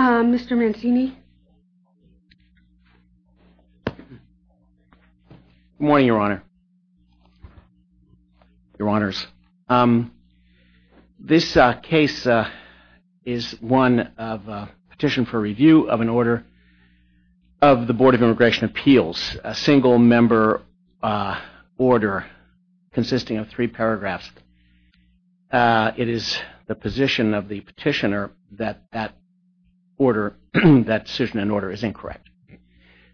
Mr. Mancini. Good morning, Your Honor. Your Honors, this case is one of a petition for review of an order of the Board of Immigration Appeals, a single-member order consisting of three paragraphs. It is the position of the petitioner that that order, that decision and order is incorrect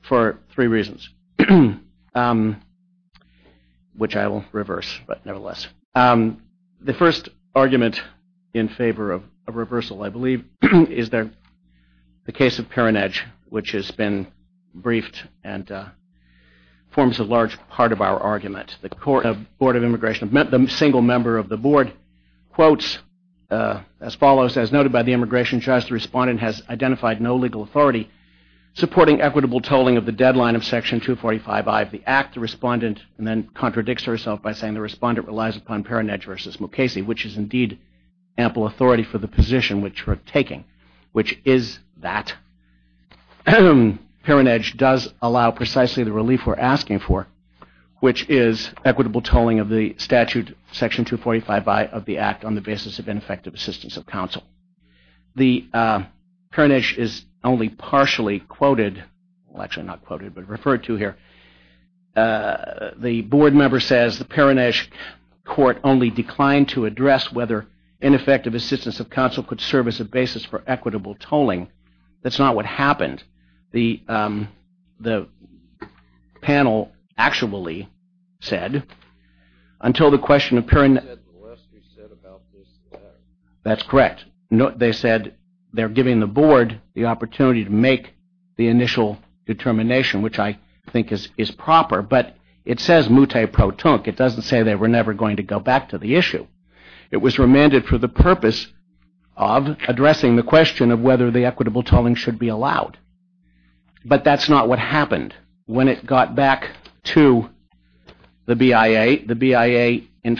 for three reasons, which I will reverse, but nevertheless. The first argument in favor of a reversal, I believe, is that the case of Perenedge, which has been briefed and forms a large part of our argument. The Board of Immigration, the single member of the Immigration Judge, the respondent has identified no legal authority supporting equitable tolling of the deadline of Section 245I of the Act. The respondent then contradicts herself by saying the respondent relies upon Perenedge versus Mukasey, which is indeed ample authority for the position which we're taking, which is that Perenedge does allow precisely the relief we're asking for, which is equitable tolling of the statute Section 245I of the Act on the basis of ineffective assistance of counsel. The Perenedge is only partially quoted, well actually not quoted, but referred to here. The board member says the Perenedge court only declined to address whether ineffective assistance of counsel could serve as a basis for equitable tolling. That's not what That's correct. They said they're giving the board the opportunity to make the initial determination, which I think is proper, but it says mute pro tonque. It doesn't say they were never going to go back to the issue. It was remanded for the purpose of addressing the question of whether the equitable tolling should be allowed, but that's not what happened. When it got back to the BIA, the BIA in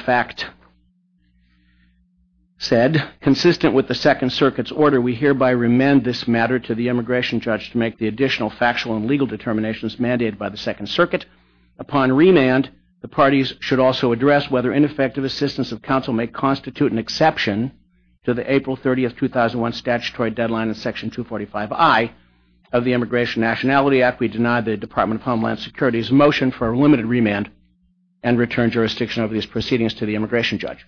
said, consistent with the Second Circuit's order, we hereby remand this matter to the immigration judge to make the additional factual and legal determinations mandated by the Second Circuit. Upon remand, the parties should also address whether ineffective assistance of counsel may constitute an exception to the April 30th, 2001 statutory deadline in Section 245I of the Immigration Nationality Act. We deny the Department of Homeland Security's motion for a limited remand and return jurisdiction over these proceedings to the immigration judge.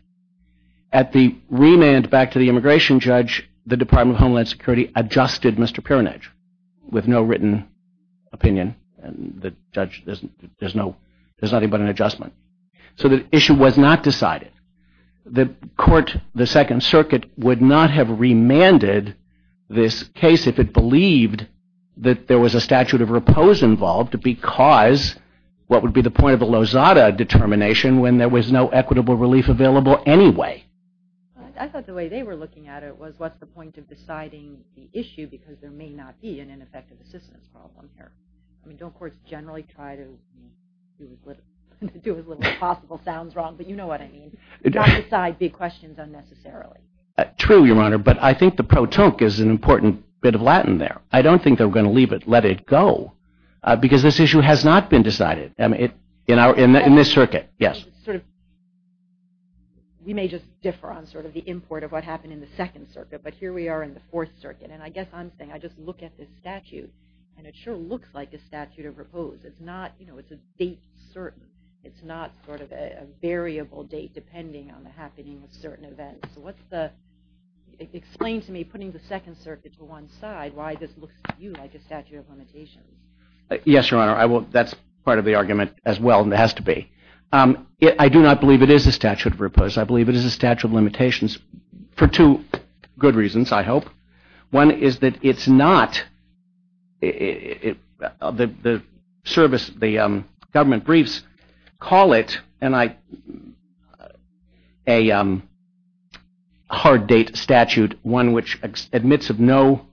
At the remand back to the immigration judge, the Department of Homeland Security adjusted Mr. Piranich with no written opinion and the judge, there's nothing but an adjustment. So the issue was not decided. The court, the Second Circuit, would not have remanded this case if it believed that there was a statute of repose involved because what would be the point of a Lozada determination when there was no equitable relief available anyway? I thought the way they were looking at it was what's the point of deciding the issue because there may not be an ineffective assistance problem here. I mean, don't courts generally try to do as little as possible? Sounds wrong, but you know what I mean. Not decide big questions unnecessarily. True, Your Honor, but I think the pro tonque is an important bit of Latin there. I don't think they're going to leave it, let it go, because this issue has not been decided. I mean, in this circuit, yes. We may just differ on sort of the import of what happened in the Second Circuit, but here we are in the Fourth Circuit and I guess I'm saying I just look at this statute and it sure looks like a statute of repose. It's not, you know, it's a date certain. It's not sort of a variable date depending on the happening of certain events. So what's the, explain to me putting the Second Circuit to one side why this looks to you like a statute of part of the argument as well, and it has to be. I do not believe it is a statute of repose. I believe it is a statute of limitations for two good reasons, I hope. One is that it's not, the service, the government briefs call it, and I, a hard date statute, one which admits of no,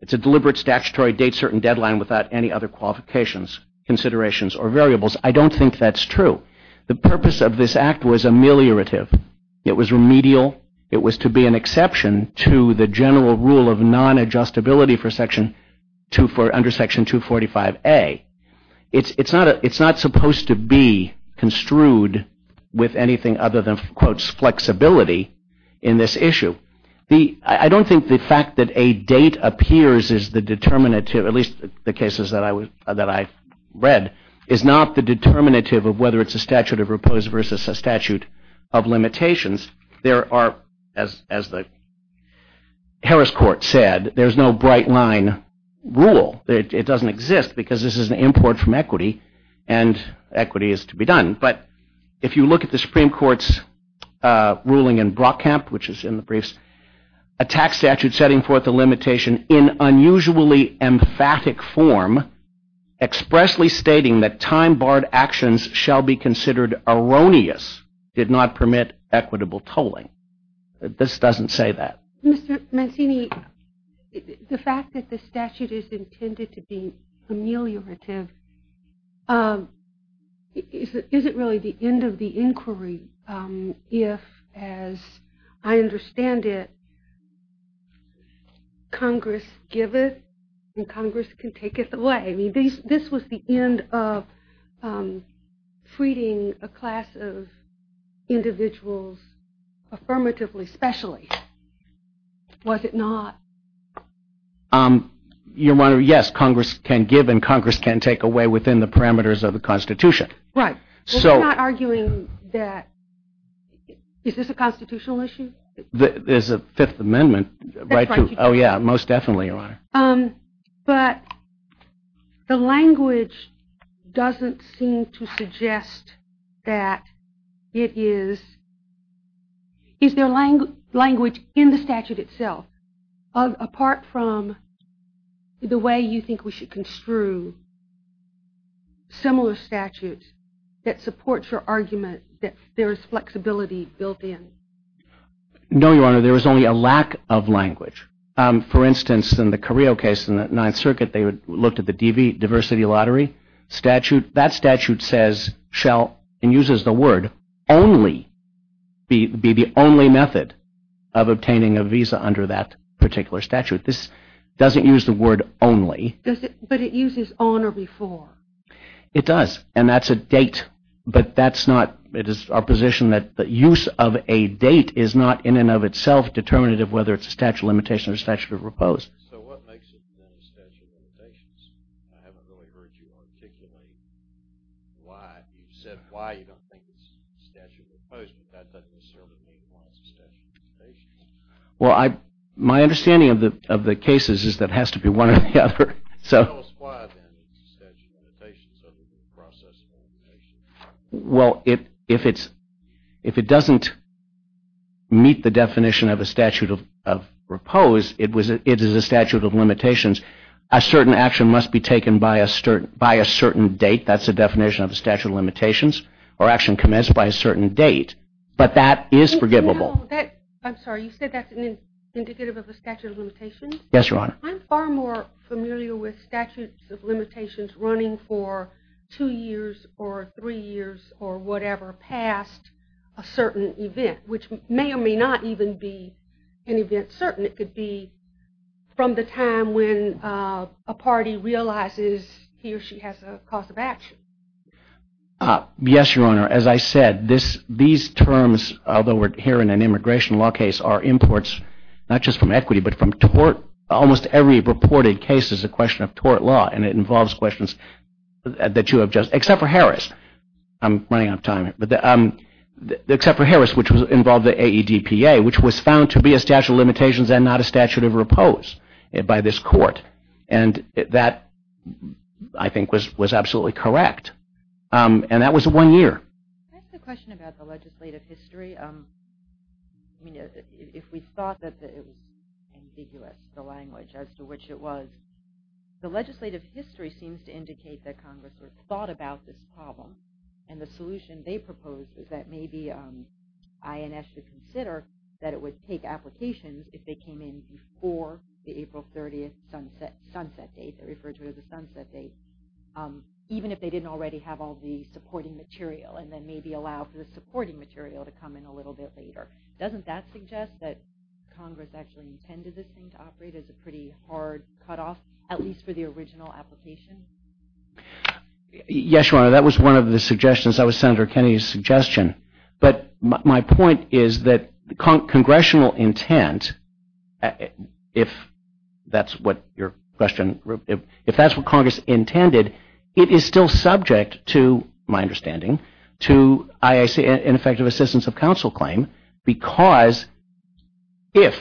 it's a deliberate statutory date certain qualifications, considerations, or variables. I don't think that's true. The purpose of this act was ameliorative. It was remedial. It was to be an exception to the general rule of non-adjustability for Section 24, under Section 245A. It's, it's not a, it's not supposed to be construed with anything other than, quotes, flexibility in this issue. The, I don't think the fact that a date appears is the determinative, at least the cases that I was, that I read, is not the determinative of whether it's a statute of repose versus a statute of limitations. There are, as, as the Harris Court said, there's no bright-line rule. It doesn't exist because this is an import from equity, and equity is to be done. But if you look at the Supreme Court's ruling in Brockamp, which is in the briefs, a tax statute setting forth the limitation in unusually emphatic form, expressly stating that time-barred actions shall be considered erroneous, did not permit equitable tolling. This doesn't say that. Mr. Mancini, the fact that the statute is intended to be ameliorative, is it really the end of the bandit, Congress giveth and Congress can take it away? I mean, this was the end of treating a class of individuals affirmatively, especially. Was it not? Your Honor, yes, Congress can give and Congress can take away within the parameters of the Constitution. Right. So. We're not arguing that, is this a Fifth Amendment? Oh yeah, most definitely, Your Honor. But the language doesn't seem to suggest that it is, is there language in the statute itself, apart from the way you think we should construe similar statutes that supports your argument that there is flexibility built in? No, Your Honor, there is only a lack of language. For instance, in the Carrillo case in the Ninth Circuit, they looked at the diversity lottery statute. That statute says, shall, and uses the word only, be the only method of obtaining a visa under that particular statute. This doesn't use the word only. But it uses on or before. It does, and that's a date, but that's not, it is our position that the use of a date is not, in and of itself, determinative whether it's a statute of limitation or statute of repose. Well, I, my understanding of the of the cases is that has to be one or the other. Well, it, if it's, if it doesn't meet the definition of a statute of repose, it was, it is a statute of limitations. A certain action must be taken by a certain, by a certain date. That's the definition of the statute of limitations, or action commenced by a certain date. But that is forgivable. Yes, Your Honor. I'm far more familiar with statutes of limitations running for two years or three years or whatever past a certain event, which may or may not even be an event certain. It could be from the time when a party realizes he or she has a cause of action. Yes, Your Honor. As I said, this, these terms, although we're here in an immigration law case, are imports, not just from equity, but from tort. Almost every reported case is a question of tort law, and it involves questions that you have just, except for Harris. I'm running out of time, but except for Harris, which was involved the AEDPA, which was found to be a statute of limitations and not a statute of repose by this court. And that, I think, was was absolutely correct. And that was one year. The legislative history seems to indicate that Congress sort of thought about this problem, and the solution they proposed is that maybe INS should consider that it would take applications if they came in before the April 30th sunset date. They referred to it as a sunset date. Even if they didn't already have all the supporting material, and then maybe allow for the supporting material to come in a little bit later. Doesn't that suggest that Congress actually intended this thing to operate as a pretty hard cutoff, at least for the original application? Yes, Your Honor, that was one of the suggestions. That was Senator Kennedy's suggestion. But my point is that congressional intent, if that's what your question, if that's what Congress intended, it is still subject to, my understanding, to IACA, ineffective assistance of counsel claim. Because if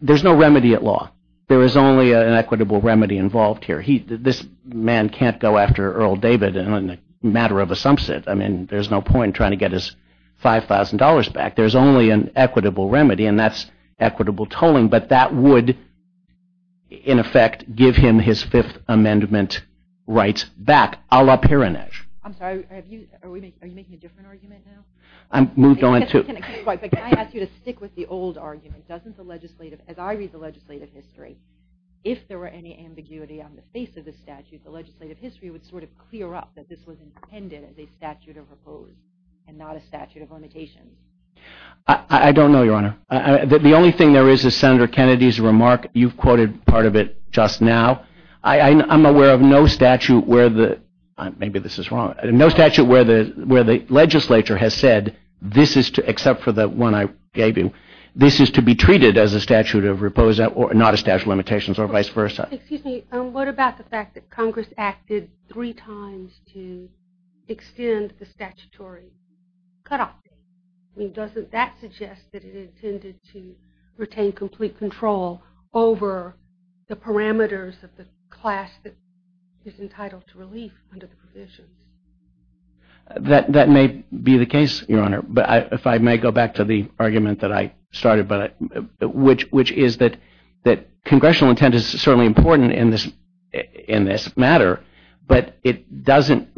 there's no remedy at law, there is only an equitable remedy involved here. He, this man can't go after Earl David in a matter of a sunset. I mean, there's no point trying to get his $5,000 back. There's only an equitable remedy, and that's equitable tolling. But that would, in effect, give him his Fifth Amendment rights back, a la Piranesi. I'm sorry, are you making a different argument now? I'm moved on to... Can I ask you to stick with the old argument? Doesn't the legislative, as I read the legislative history, if there were any ambiguity on the face of the statute, the legislative history would sort of clear up that this was intended as a statute of repose, and not a statute of limitations. I don't know, Your Honor. The only thing there is is Senator Kennedy's remark. You've quoted part of it just now. I'm aware of no statute where the, maybe this is wrong, no statute where the, where the legislature has said, this is to, except for the one I gave you, this is to be treated as a statute of repose, or not a statute of limitations, or vice versa. Excuse me, what about the fact that Congress acted three times to extend the statutory cutoff? I mean, doesn't that suggest that it intended to retain complete control over the parameters of the class that is entitled to relief under the provisions? That, that may be the case, Your Honor, but I, if I may go back to the argument that I started, but I, which, which is that, that congressional intent is certainly important in this, in this matter, but it doesn't,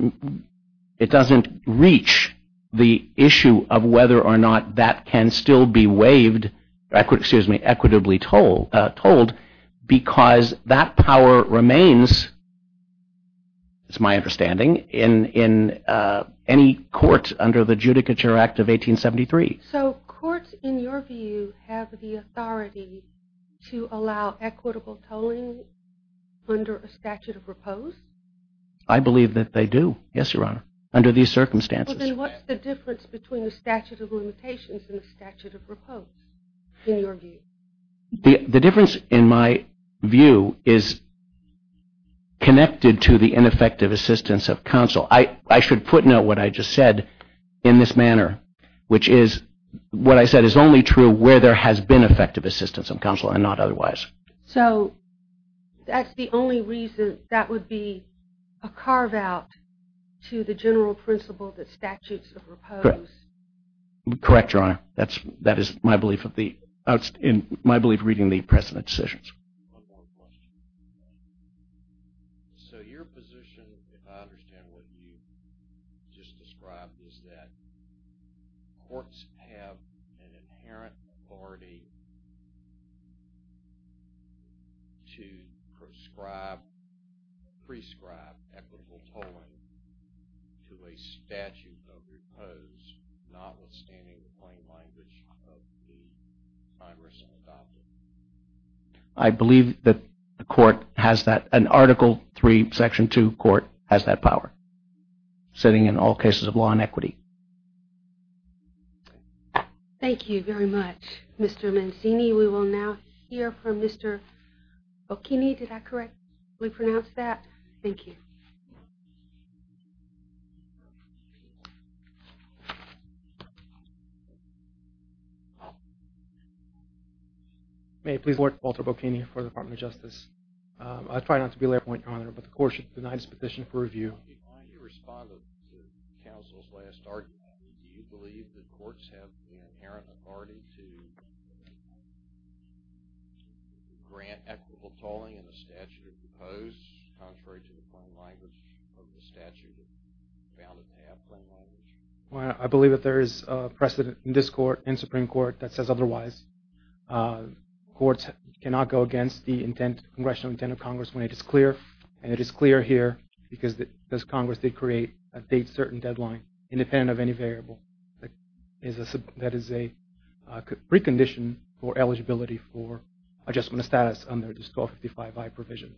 it doesn't reach the issue of whether or not that can still be waived, excuse me, equitably toll, tolled, because that power remains, it's my understanding, in, in any court under the Judicature Act of 1873. So courts, in your view, have the authority to allow equitable tolling under a statute of repose? I believe that they do, yes, Your Honor, under these circumstances. Well, then what's the difference between the statute of limitations and the statute of repose, in your view? The, the difference, in my view, is connected to the ineffective assistance of counsel. I, I should put note what I just said, in this manner, which is, what I said is only true where there has been effective assistance of counsel and not otherwise. So, that's the only reason that would be a carve-out to the general principle that statutes of repose? Correct, Your Honor, that's, that is my belief of the, in my belief, reading the precedent decisions. So, your position, if I understand what you just described, is that courts have an inherent authority to prescribe, prescribe equitable tolling to a statute of repose, notwithstanding the plain language of the judge. I believe that the court has that, an Article 3, Section 2 court, has that power, setting in all cases of law and equity. Thank you very much, Mr. Mancini. We will now hear from Mr. Bocchini, did I correct, we pronounce that? Thank you. May I please report, Walter Bocchini, for the Department of Justice. I try not to be a lair point, Your Honor, but the court should deny this petition for review. Your Honor, before you respond to counsel's last argument, do you believe that courts have the inherent authority to grant equitable tolling in a statute of repose, contrary to the plain language of the statute that found it to have plain language? Well, I believe that there is precedent in this court, in Supreme Court, that says otherwise. Courts cannot go against the intent, congressional intent of Congress when it is clear, and it is clear here because this Congress did create a date certain deadline, independent of any variable, that is a precondition for eligibility for adjustment of status under this 1255I provision,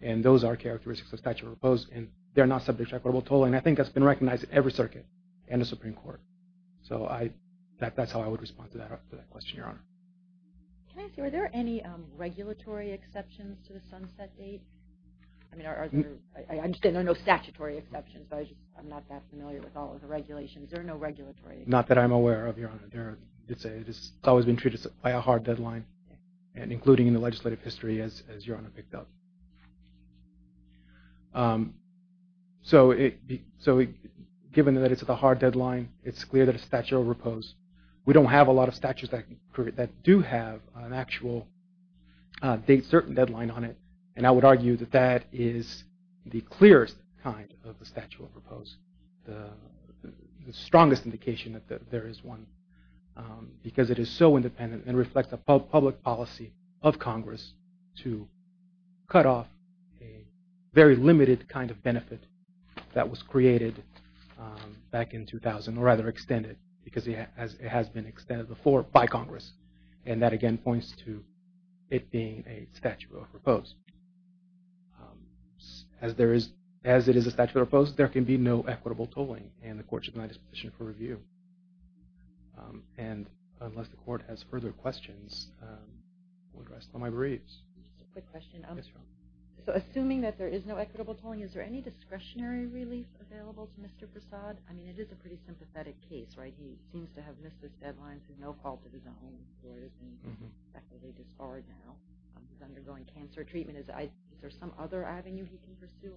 and those are characteristics of statute of repose, and they're not subject to equitable tolling. I think that's been recognized in every circuit and the Supreme Court, so that's how I would respond to that question, Your Honor. Can I ask you, are there any regulatory exceptions to the sunset date? I mean, I understand there are no statutory exceptions, but I'm not that familiar with all of the regulations. There are no regulatory exceptions. Not that I'm aware of, Your Honor. It's always been treated by a hard deadline, and including in the legislative history, as Your Honor picked up. So, given that it's at the hard deadline, it's clear that a statute of repose, we don't have a lot of date certain deadline on it, and I would argue that that is the clearest kind of the statute of repose, the strongest indication that there is one, because it is so independent and reflects a public policy of Congress to cut off a very limited kind of benefit that was created back in 2000, or rather extended, because it has been extended before by Congress, and that again points to it being a statute of repose. As there is, as it is a statute of repose, there can be no equitable tolling, and the court should not be in a position for review. And unless the court has further questions, we'll address them on my briefs. So, assuming that there is no equitable tolling, is there any discretionary relief available to Mr. Prasad? I mean, it is a pretty sympathetic case, right? He seems to have missed his deadlines, he's no quality of his own. He's undergoing cancer treatment. Is there some other avenue he can pursue?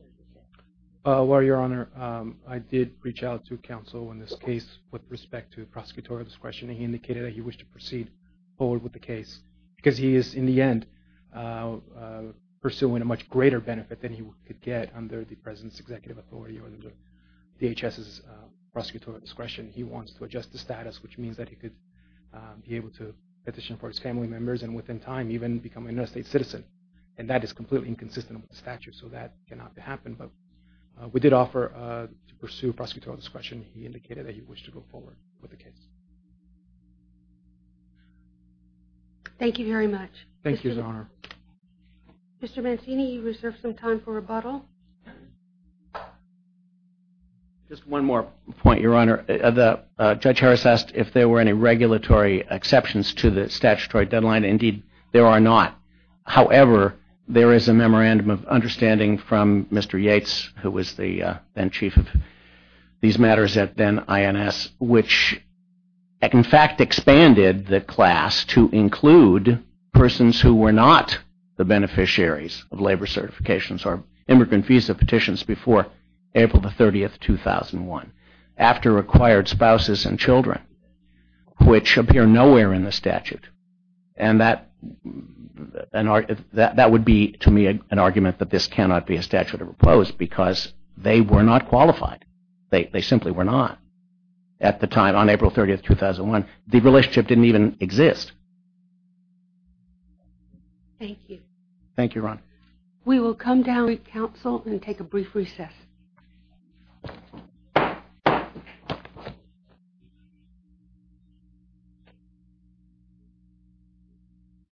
Well, Your Honor, I did reach out to counsel in this case with respect to prosecutorial discretion, and he indicated that he wished to proceed forward with the case, because he is, in the end, pursuing a much greater benefit than he could get under the President's Executive Authority, or under DHS's prosecutorial discretion. He wants to adjust the status, which means that he could be able to petition for his family members, and within time, even become an interstate citizen. And that is completely inconsistent with the statute, so that cannot happen, but we did offer to pursue prosecutorial discretion. He indicated that he wished to go forward with the case. Thank you very much. Thank you, Your Honor. Mr. Mancini, you reserve some time for rebuttal. Just one more point, Your Honor. Judge Harris asked if there were any regulatory exceptions to the statutory deadline. Indeed, there are not. However, there is a memorandum of understanding from Mr. Yates, who was the then chief of these matters at then INS, which in fact expanded the class to include persons who were not the beneficiaries of labor certifications or immigrant visa petitions before April 30, 2001, after acquired spouses and children, which appear nowhere in the statute. And that would be, to me, an argument that this cannot be a statute of opposed, because they were not qualified. They simply were not. At the time, on April 30, 2001, the relationship didn't even exist. Thank you. Thank you, Your Honor. We will come down to council and take a brief recess.